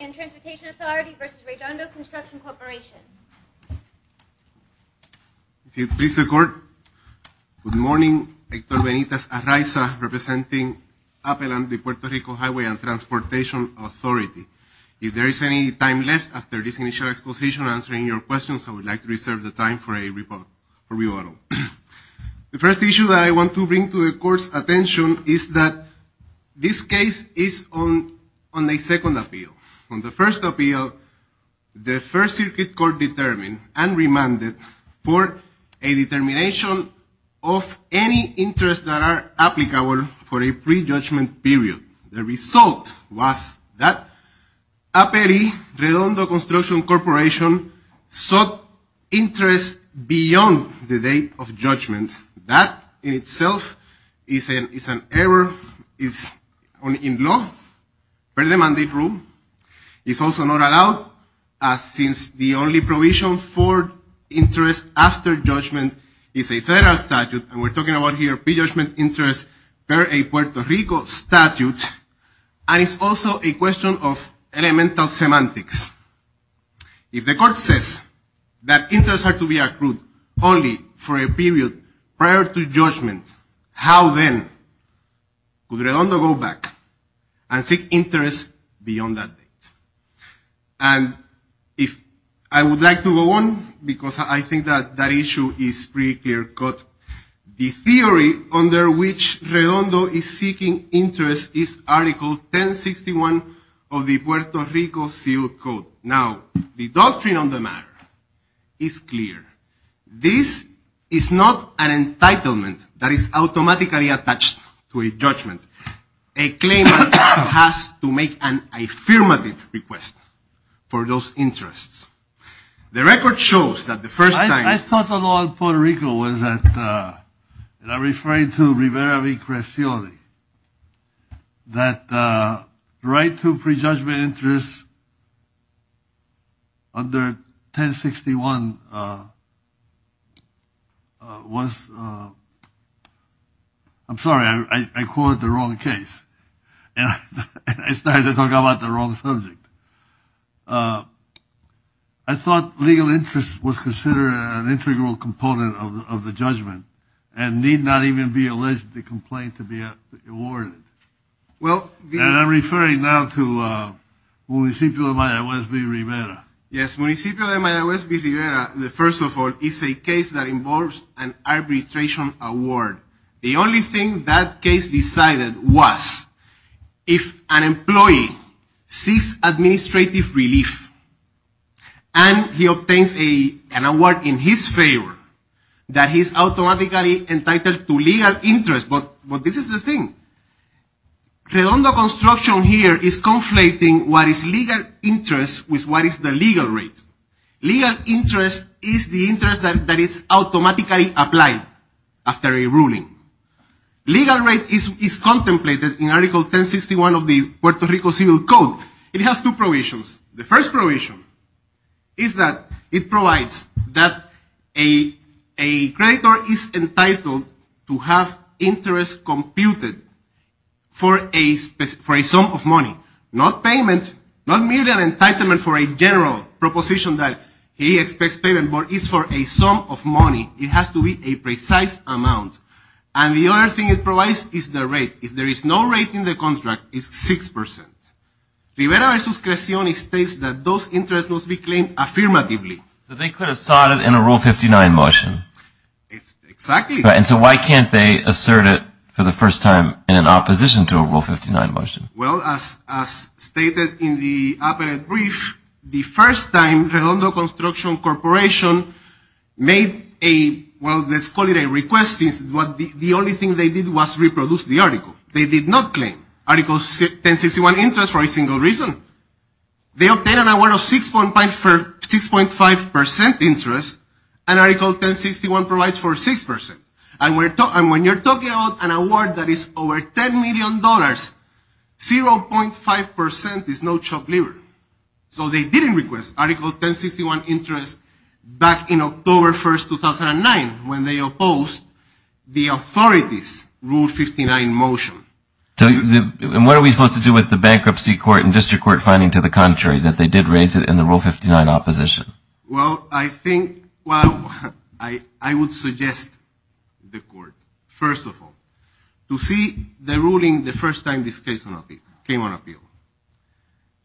and Transportation Authority v. Redondo Construction Corp. If you please, the court. Good morning, Hector Benitez-Arraiza, representing Appel and the Puerto Rico Highway and Transportation Authority. If there is any time left after this initial exposition, answering your questions, I would like to reserve the time for a rebuttal. The first issue that I want to bring to the court's attention is that this case is on a second appeal. On the first appeal, the First Circuit Court determined and remanded for a determination of any interests that are applicable for a pre-judgment period. The result was that Appel v. Redondo Construction Corporation sought interests beyond the date of judgment. That in itself is an error. It's in law, per the mandate rule. It's also not allowed, since the only provision for interest after judgment is a federal statute, and we're talking about here pre-judgment interest per a Puerto Rico statute, and it's also a question of elemental semantics. If the court says that interests are to be accrued only for a period prior to judgment, how then could Redondo go back and seek interests beyond that date? And if I would like to go on, because I think that that issue is pretty clear, but the theory under which Redondo is seeking interest is Article 1061 of the Puerto Rico Seal Code. Now, the doctrine on the matter is clear. This is not an entitlement that is automatically attached to a judgment. A claimant has to make an affirmative request for those interests. The record shows that the first time... I thought of all Puerto Rico was that, and I'm referring to Rivera v. Crescioli, that right to pre-judgment interest under 1061 was, I'm sorry, I called it the wrong case. And I started to talk about the wrong subject. I thought legal interest was considered an integral component of the judgment and need not even be alleged to complain to be awarded. And I'm referring now to Municipio de Mayaguez v. Rivera. Yes, Municipio de Mayaguez v. Rivera, first of all, is a case that involves an arbitration award. The only thing that case decided was if an employee seeks administrative relief and he obtains an award in his favor, that he's automatically entitled to legal interest. But this is the thing. Redondo construction here is conflating what is legal interest with what is the legal rate. Legal interest is the interest that is automatically applied after a ruling. Legal rate is contemplated in Article 1061 of the Puerto Rico Civil Code. It has two provisions. The first provision is that it provides that a creditor is entitled to have interest computed for a sum of money, not payment, not merely an entitlement for a general proposition that he expects payment, but it's for a sum of money. It has to be a precise amount. And the other thing it provides is the rate. If there is no rate in the contract, it's 6%. Rivera v. Crescione states that those interests must be claimed affirmatively. But they could have sought it in a Rule 59 motion. Exactly. And so why can't they assert it for the first time in opposition to a Rule 59 motion? Well, as stated in the op-ed brief, the first time Redondo Construction Corporation made a, well, let's call it a request, the only thing they did was reproduce the article. They did not claim Article 1061 interest for a single reason. They obtained an award of 6.5% interest, and Article 1061 provides for 6%. And when you're talking about an award that is over $10 million, 0.5% is no chopped liver. So they didn't request Article 1061 interest back in October 1st, 2009, when they opposed the authorities' Rule 59 motion. And what are we supposed to do with the bankruptcy court and district court finding, to the contrary, that they did raise it in the Rule 59 opposition? Well, I think, well, I would suggest the court, first of all, to see the ruling the first time this case came on appeal.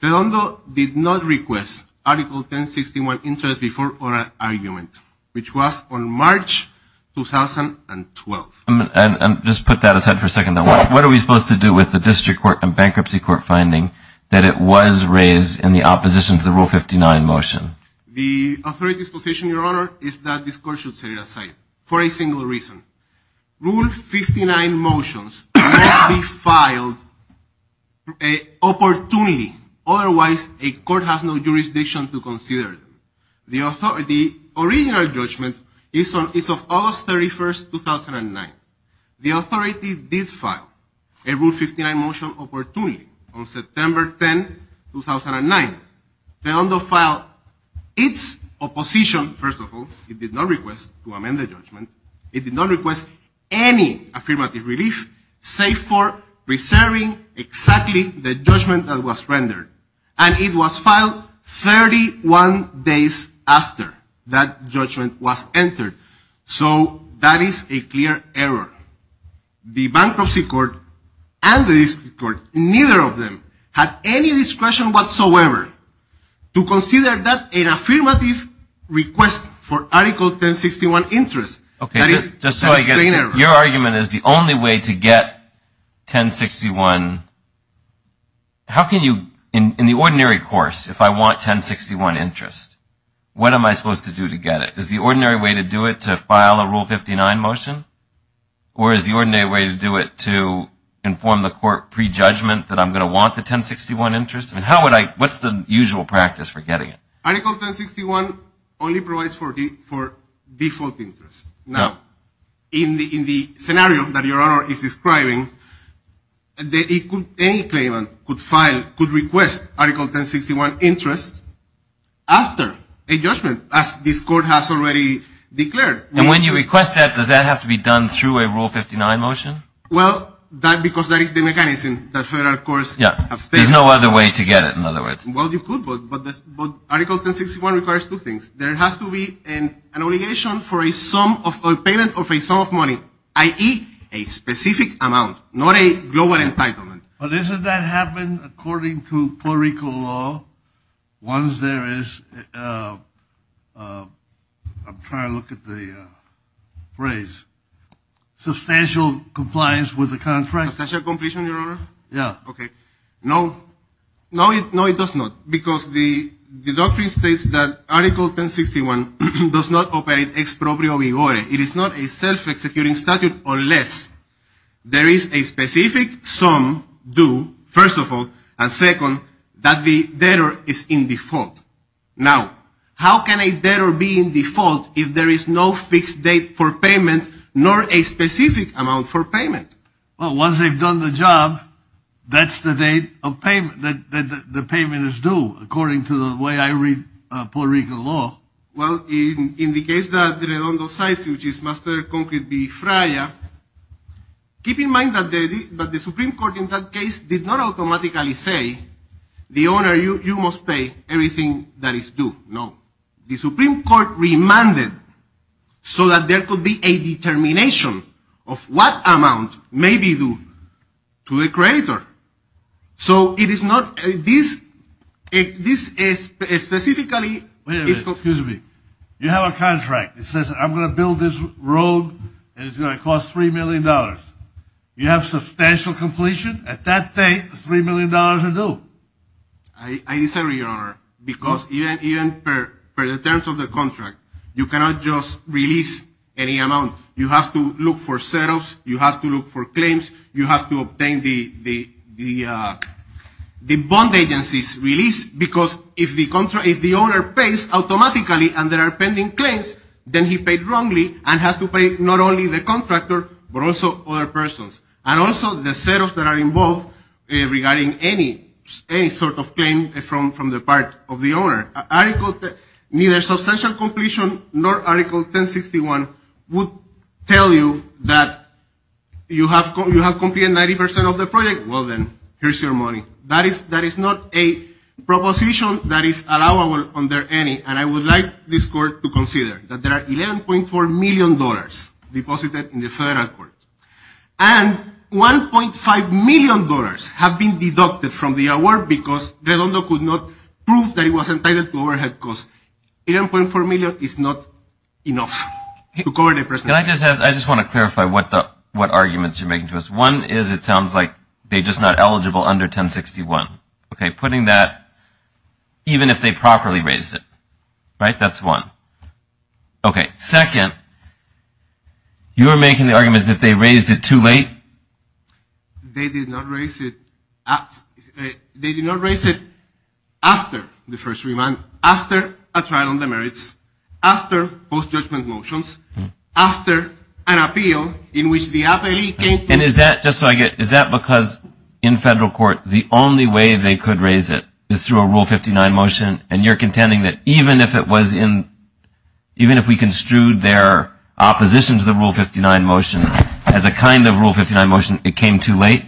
Redondo did not request Article 1061 interest before our argument, which was on March 2012. And just put that aside for a second. What are we supposed to do with the district court and bankruptcy court finding that it was raised in the opposition to the Rule 59 motion? The authorities' position, Your Honor, is that this court should set it aside for a single reason. Rule 59 motions must be filed opportunely. Otherwise, a court has no jurisdiction to consider them. The original judgment is of August 31st, 2009. The authority did file a Rule 59 motion opportunely on September 10, 2009. Redondo filed its opposition, first of all, it did not request to amend the judgment. It did not request any affirmative relief, save for preserving exactly the judgment that was rendered, and it was filed 31 days after that judgment was entered. So, that is a clear error. The bankruptcy court and the district court, neither of them had any discretion whatsoever to consider that an affirmative request for Article 1061 interest. That is a clear error. Your argument is the only way to get 1061. How can you, in the ordinary course, if I want 1061 interest, what am I supposed to do to get it? Is the ordinary way to do it to file a Rule 59 motion? Or is the ordinary way to do it to inform the court pre-judgment that I'm going to want the 1061 interest? How would I, what's the usual practice for getting it? Article 1061 only provides for default interest. Now, in the scenario that Your Honor is describing, any claimant could file, could request Article 1061 interest after a judgment, as this court has already declared. And when you request that, does that have to be done through a Rule 59 motion? Well, that, because that is the mechanism that federal courts have stated. There's no other way to get it, in other words. Well, you could, but Article 1061 requires two things. There has to be an obligation for a sum of, a payment of a sum of money, i.e., a specific amount, not a global entitlement. But isn't that happening according to Puerto Rico law? Once there is, I'm trying to look at the phrase, substantial compliance with the contract. Substantial completion, Your Honor? Yeah. Okay. No, no, it does not. Because the doctrine states that Article 1061 does not operate exproprio vigore. It is not a self-executing statute unless there is a specific sum due, first of all, and second, that the debtor is in default. Now, how can a debtor be in default if there is no fixed date for payment, nor a specific amount for payment? Well, once they've done the job, that's the date of payment, that the payment is due according to the way I read Puerto Rico law. Well, in the case that Redondo Cites, which is Master Concrete B. Fraya, keep in mind that the Supreme Court in that case did not automatically say, the owner, you must pay everything that is due. No. The Supreme Court remanded so that there could be a determination of what amount may be due to the creditor. So, it is not, this is specifically. Wait a minute, excuse me. You have a contract. It says I'm going to build this road, and it's going to cost $3 million. You have substantial completion? At that date, $3 million is due. I disagree, Your Honor, because even per the terms of the contract, you cannot just release any amount. You have to look for set-offs. You have to look for claims. You have to obtain the bond agency's release, because if the owner pays automatically, and there are pending claims, then he paid wrongly and has to pay not only the contractor, but also other persons, and also the set-offs that are involved regarding any sort of claim from the part of the owner. Article, neither substantial completion nor Article 1061 would tell you that you have completed 90% of the project. Well, then, here's your money. That is not a proposition that is allowable under any, and I would like this court to consider that there are $11.4 million deposited in the federal court. And $1.5 million have been deducted from the award because Redondo could not prove that he was entitled to overhead, because $11.4 million is not enough to cover the present. And I just have, I just want to clarify what the, what arguments you're making to us. One is it sounds like they're just not eligible under 1061. Okay, putting that, even if they properly raised it, right, that's one. Okay, second, you're making the argument that they raised it too late? They did not raise it, they did not raise it after the first remand, after a trial on the merits, after post-judgment motions, after an appeal in which the appellee came to. And is that, just so I get, is that because in federal court the only way they could raise it is through a Rule 59 motion, and you're contending that even if it was in, even if we construed their opposition to the Rule 59 motion as a kind of Rule 59 motion it came too late?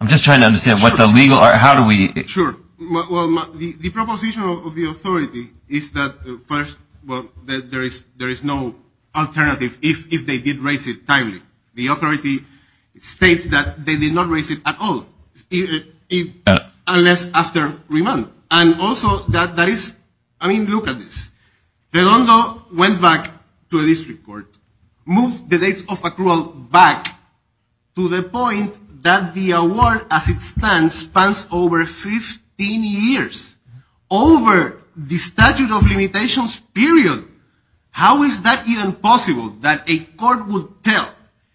I'm just trying to understand what the legal, how do we. Sure, well, the proposition of the authority is that first, well, that there is no alternative if they did raise it timely. The authority states that they did not raise it at all, unless after remand. And also, that is, I mean, look at this. Redondo went back to the district court, moved the dates of accrual back to the point that the award as it stands spans over 15 years, over the statute of limitations period. How is that even possible that a court would tell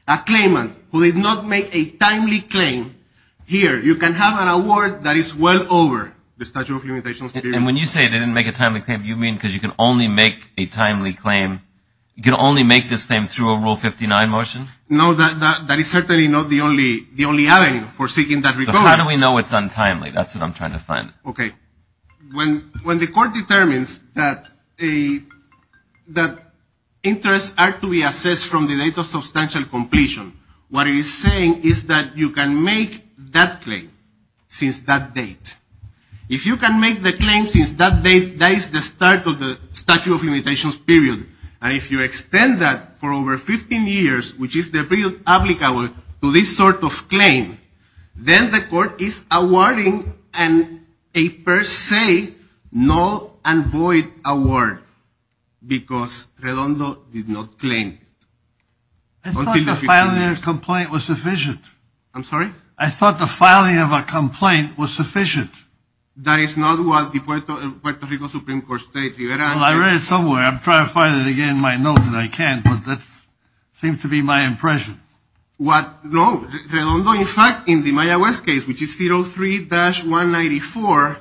a claimant who did not make a timely claim, here you can have an award that is well over the statute of limitations period. And when you say they didn't make a timely claim, you mean because you can only make a timely claim, you can only make this claim through a Rule 59 motion? No, that is certainly not the only avenue for seeking that recourse. So how do we know it's untimely? That's what I'm trying to find. Okay. When the court determines that interests are to be assessed from the date of substantial completion, what it is saying is that you can make that claim since that date. If you can make the claim since that date, that is the start of the statute of limitations period. And if you extend that for over 15 years, which is the period applicable to this sort of claim, then the court is awarding a per se null and void award, because Redondo did not claim. I thought the filing of a complaint was sufficient. I'm sorry? I thought the filing of a complaint was sufficient. That is not what the Puerto Rico Supreme Court stated. Well, I read it somewhere. I'm trying to find it again in my notes, and I can't, but that seems to be my impression. What, no, Redondo, in fact, in the Maya West case, which is 03-194,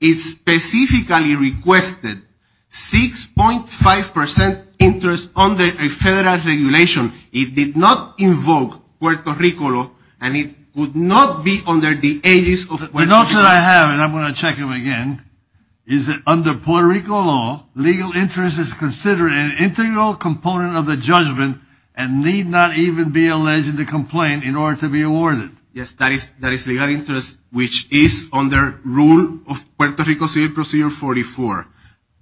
it specifically requested 6.5% interest under a federal regulation. It did not invoke Puerto Rico law, and it would not be under the aegis of Puerto Rico. The notes that I have, and I'm going to check them again, is that under Puerto Rico law, legal interest is considered an integral component of the judgment and need not even be alleged in the complaint in order to be awarded. Yes, that is legal interest, which is under rule of Puerto Rico Civil Procedure 44,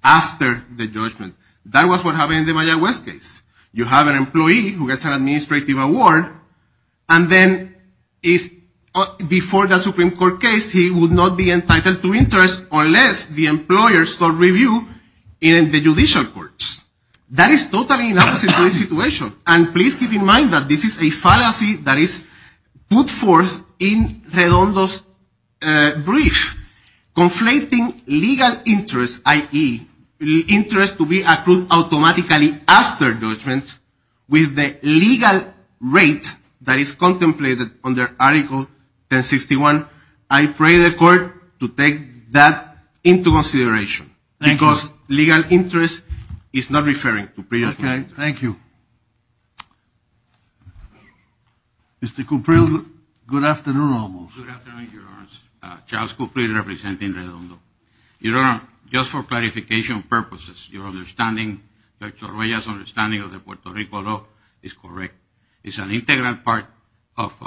after the judgment. That was what happened in the Maya West case. You have an employee who gets an administrative award, and then before the Supreme Court case, he would not be entitled to interest unless the employer sold review in the judicial courts. That is totally an opposite situation, and please keep in mind that this is a fallacy that is put forth in Redondo's brief, conflating legal interest, i.e. interest to be accrued automatically after judgment with the legal rate that is contemplated under Article 1061. I pray the court to take that into consideration because legal interest is not referring to pre-judgment. Thank you. Mr. Cuprello, good afternoon almost. Good afternoon, Your Honor. Charles Cuprello, representing Redondo. Your Honor, just for clarification purposes, your understanding, Dr. Arruella's understanding of the Puerto Rico law is correct. It's an integral part of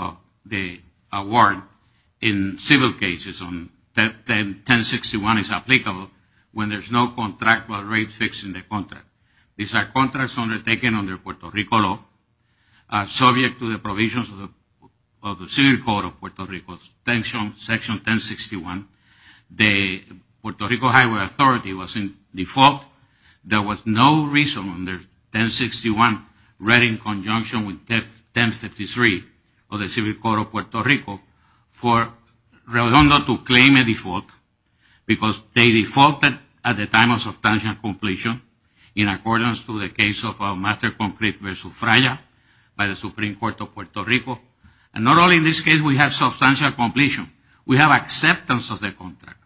the award in civil cases on 1061 is applicable when there's no contractual rate fixed in the contract. These are contracts undertaken under Puerto Rico law, subject to the provisions of the Civil Code of Puerto Rico, Section 1061. The Puerto Rico Highway Authority was in default. There was no reason under 1061 read in conjunction with 1053 of the Civil Code of Puerto Rico for Redondo to claim a default because they defaulted at the time of substantial completion in accordance to the case of Master Concrete versus Fraya by the Supreme Court of Puerto Rico. And not only in this case we have substantial completion, we have acceptance of the contract.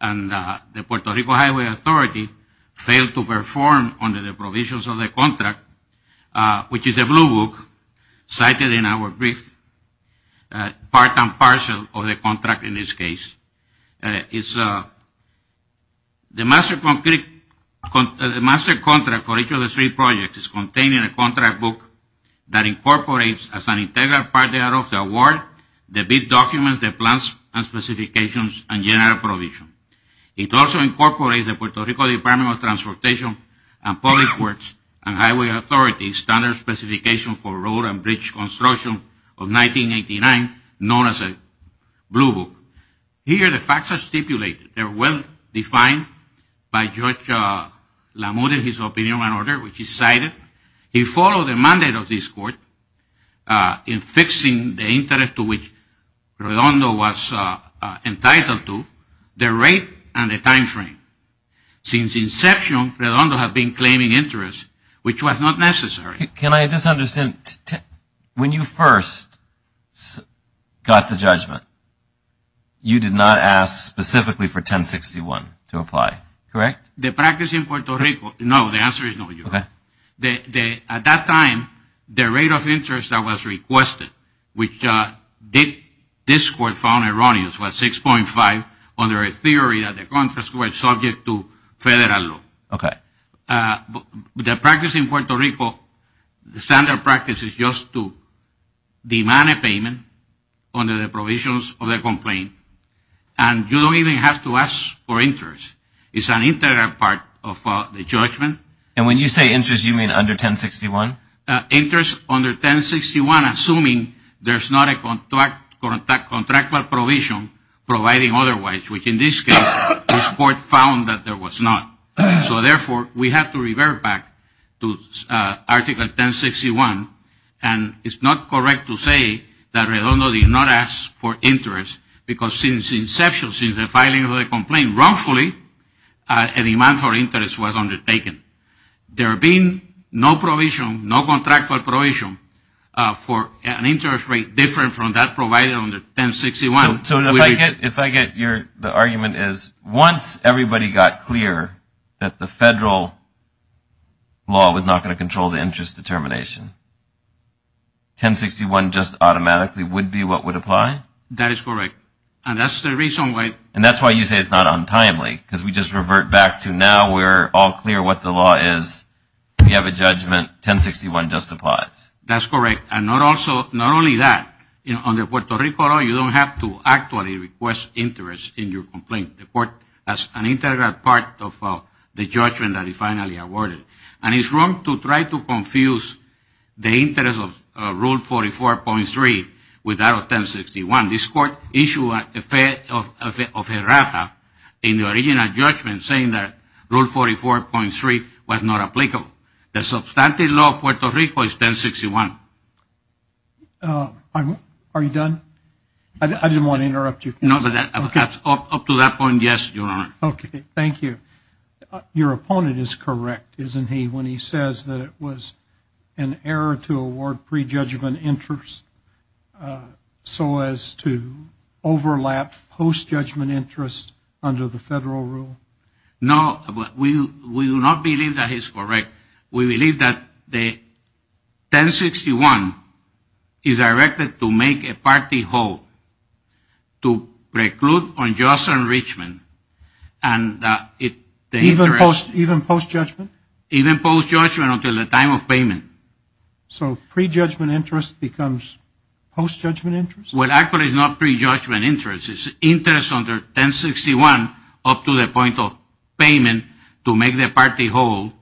And the Puerto Rico Highway Authority failed to perform under the provisions of the contract, which is a blue book cited in our brief part and parcel of the contract in this case. It's the Master Concrete, the Master Contract for each of the three projects is contained in a contract book that incorporates as an integral part of the award the big documents, the plans and specifications and general provision. It also incorporates the Puerto Rico Department of Transportation and Public Works and Highway Authority standard specification for road and bridge construction of 1989, known as a blue book. Here the facts are stipulated, they're well defined by Judge Lamothe in his opinion and order, which he cited. He followed the mandate of this court in fixing the interest to which Redondo was entitled to, the rate and the time frame. Since inception, Redondo has been claiming interest, which was not necessary. Can I just understand, when you first got the judgment, you did not ask specifically for 1061 to apply, correct? The practice in Puerto Rico, no, the answer is no, Your Honor. At that time, the rate of interest that was requested, which this court found erroneous, was 6.5 under a theory that the contract was subject to federal law. Okay. The practice in Puerto Rico, the standard practice is just to demand a payment under the provisions of the complaint, and you don't even have to ask for interest. It's an integral part of the judgment. And when you say interest, you mean under 1061? Interest under 1061, assuming there's not a contractual provision providing otherwise, which in this case, this court found that there was not. So therefore, we have to revert back to Article 1061, and it's not correct to say that Redondo did not ask for interest, because since inception, since the filing of the complaint, wrongfully, a demand for interest was undertaken. There being no provision, no contractual provision for an interest rate different from that provided under 1061. So if I get your, the argument is once everybody got clear that the federal law was not going to control the interest determination, 1061 just automatically would be what would apply? That is correct. And that's the reason why. And that's why you say it's not untimely, because we just revert back to now we're all clear what the law is. We have a judgment 1061 just applies. That's correct. And not also, not only that, you know, under Puerto Rico law, you don't have to actually request interest in your complaint. The court, that's an integral part of the judgment that is finally awarded. And it's wrong to try to confuse the interest of Rule 44.3 with that of 1061. This court issued a fate of errata in the original judgment saying that Rule 44.3 was not applicable. The substantive law of Puerto Rico is 1061. I'm, are you done? I didn't want to interrupt you. No, up to that point, yes, Your Honor. Okay, thank you. Your opponent is correct, isn't he, when he says that it was an error to award pre-judgment interest so as to overlap post-judgment interest under the federal rule? No, we do not believe that is correct. We believe that the 1061 is directed to make a party whole to preclude unjust enrichment and that it, the interest. Even post-judgment? Even post-judgment until the time of payment. So pre-judgment interest becomes post-judgment interest? Well, actually it's not pre-judgment interest. It's interest under 1061 up to the point of payment to make the party whole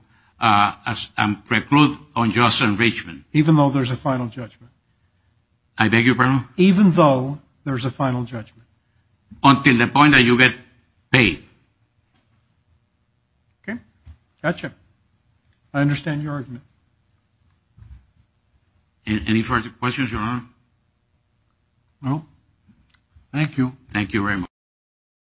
and preclude unjust enrichment. Even though there's a final judgment? I beg your pardon? Even though there's a final judgment? Until the point that you get paid. Okay, gotcha. I understand your argument. Any further questions, Your Honor? No. Thank you. Thank you very much.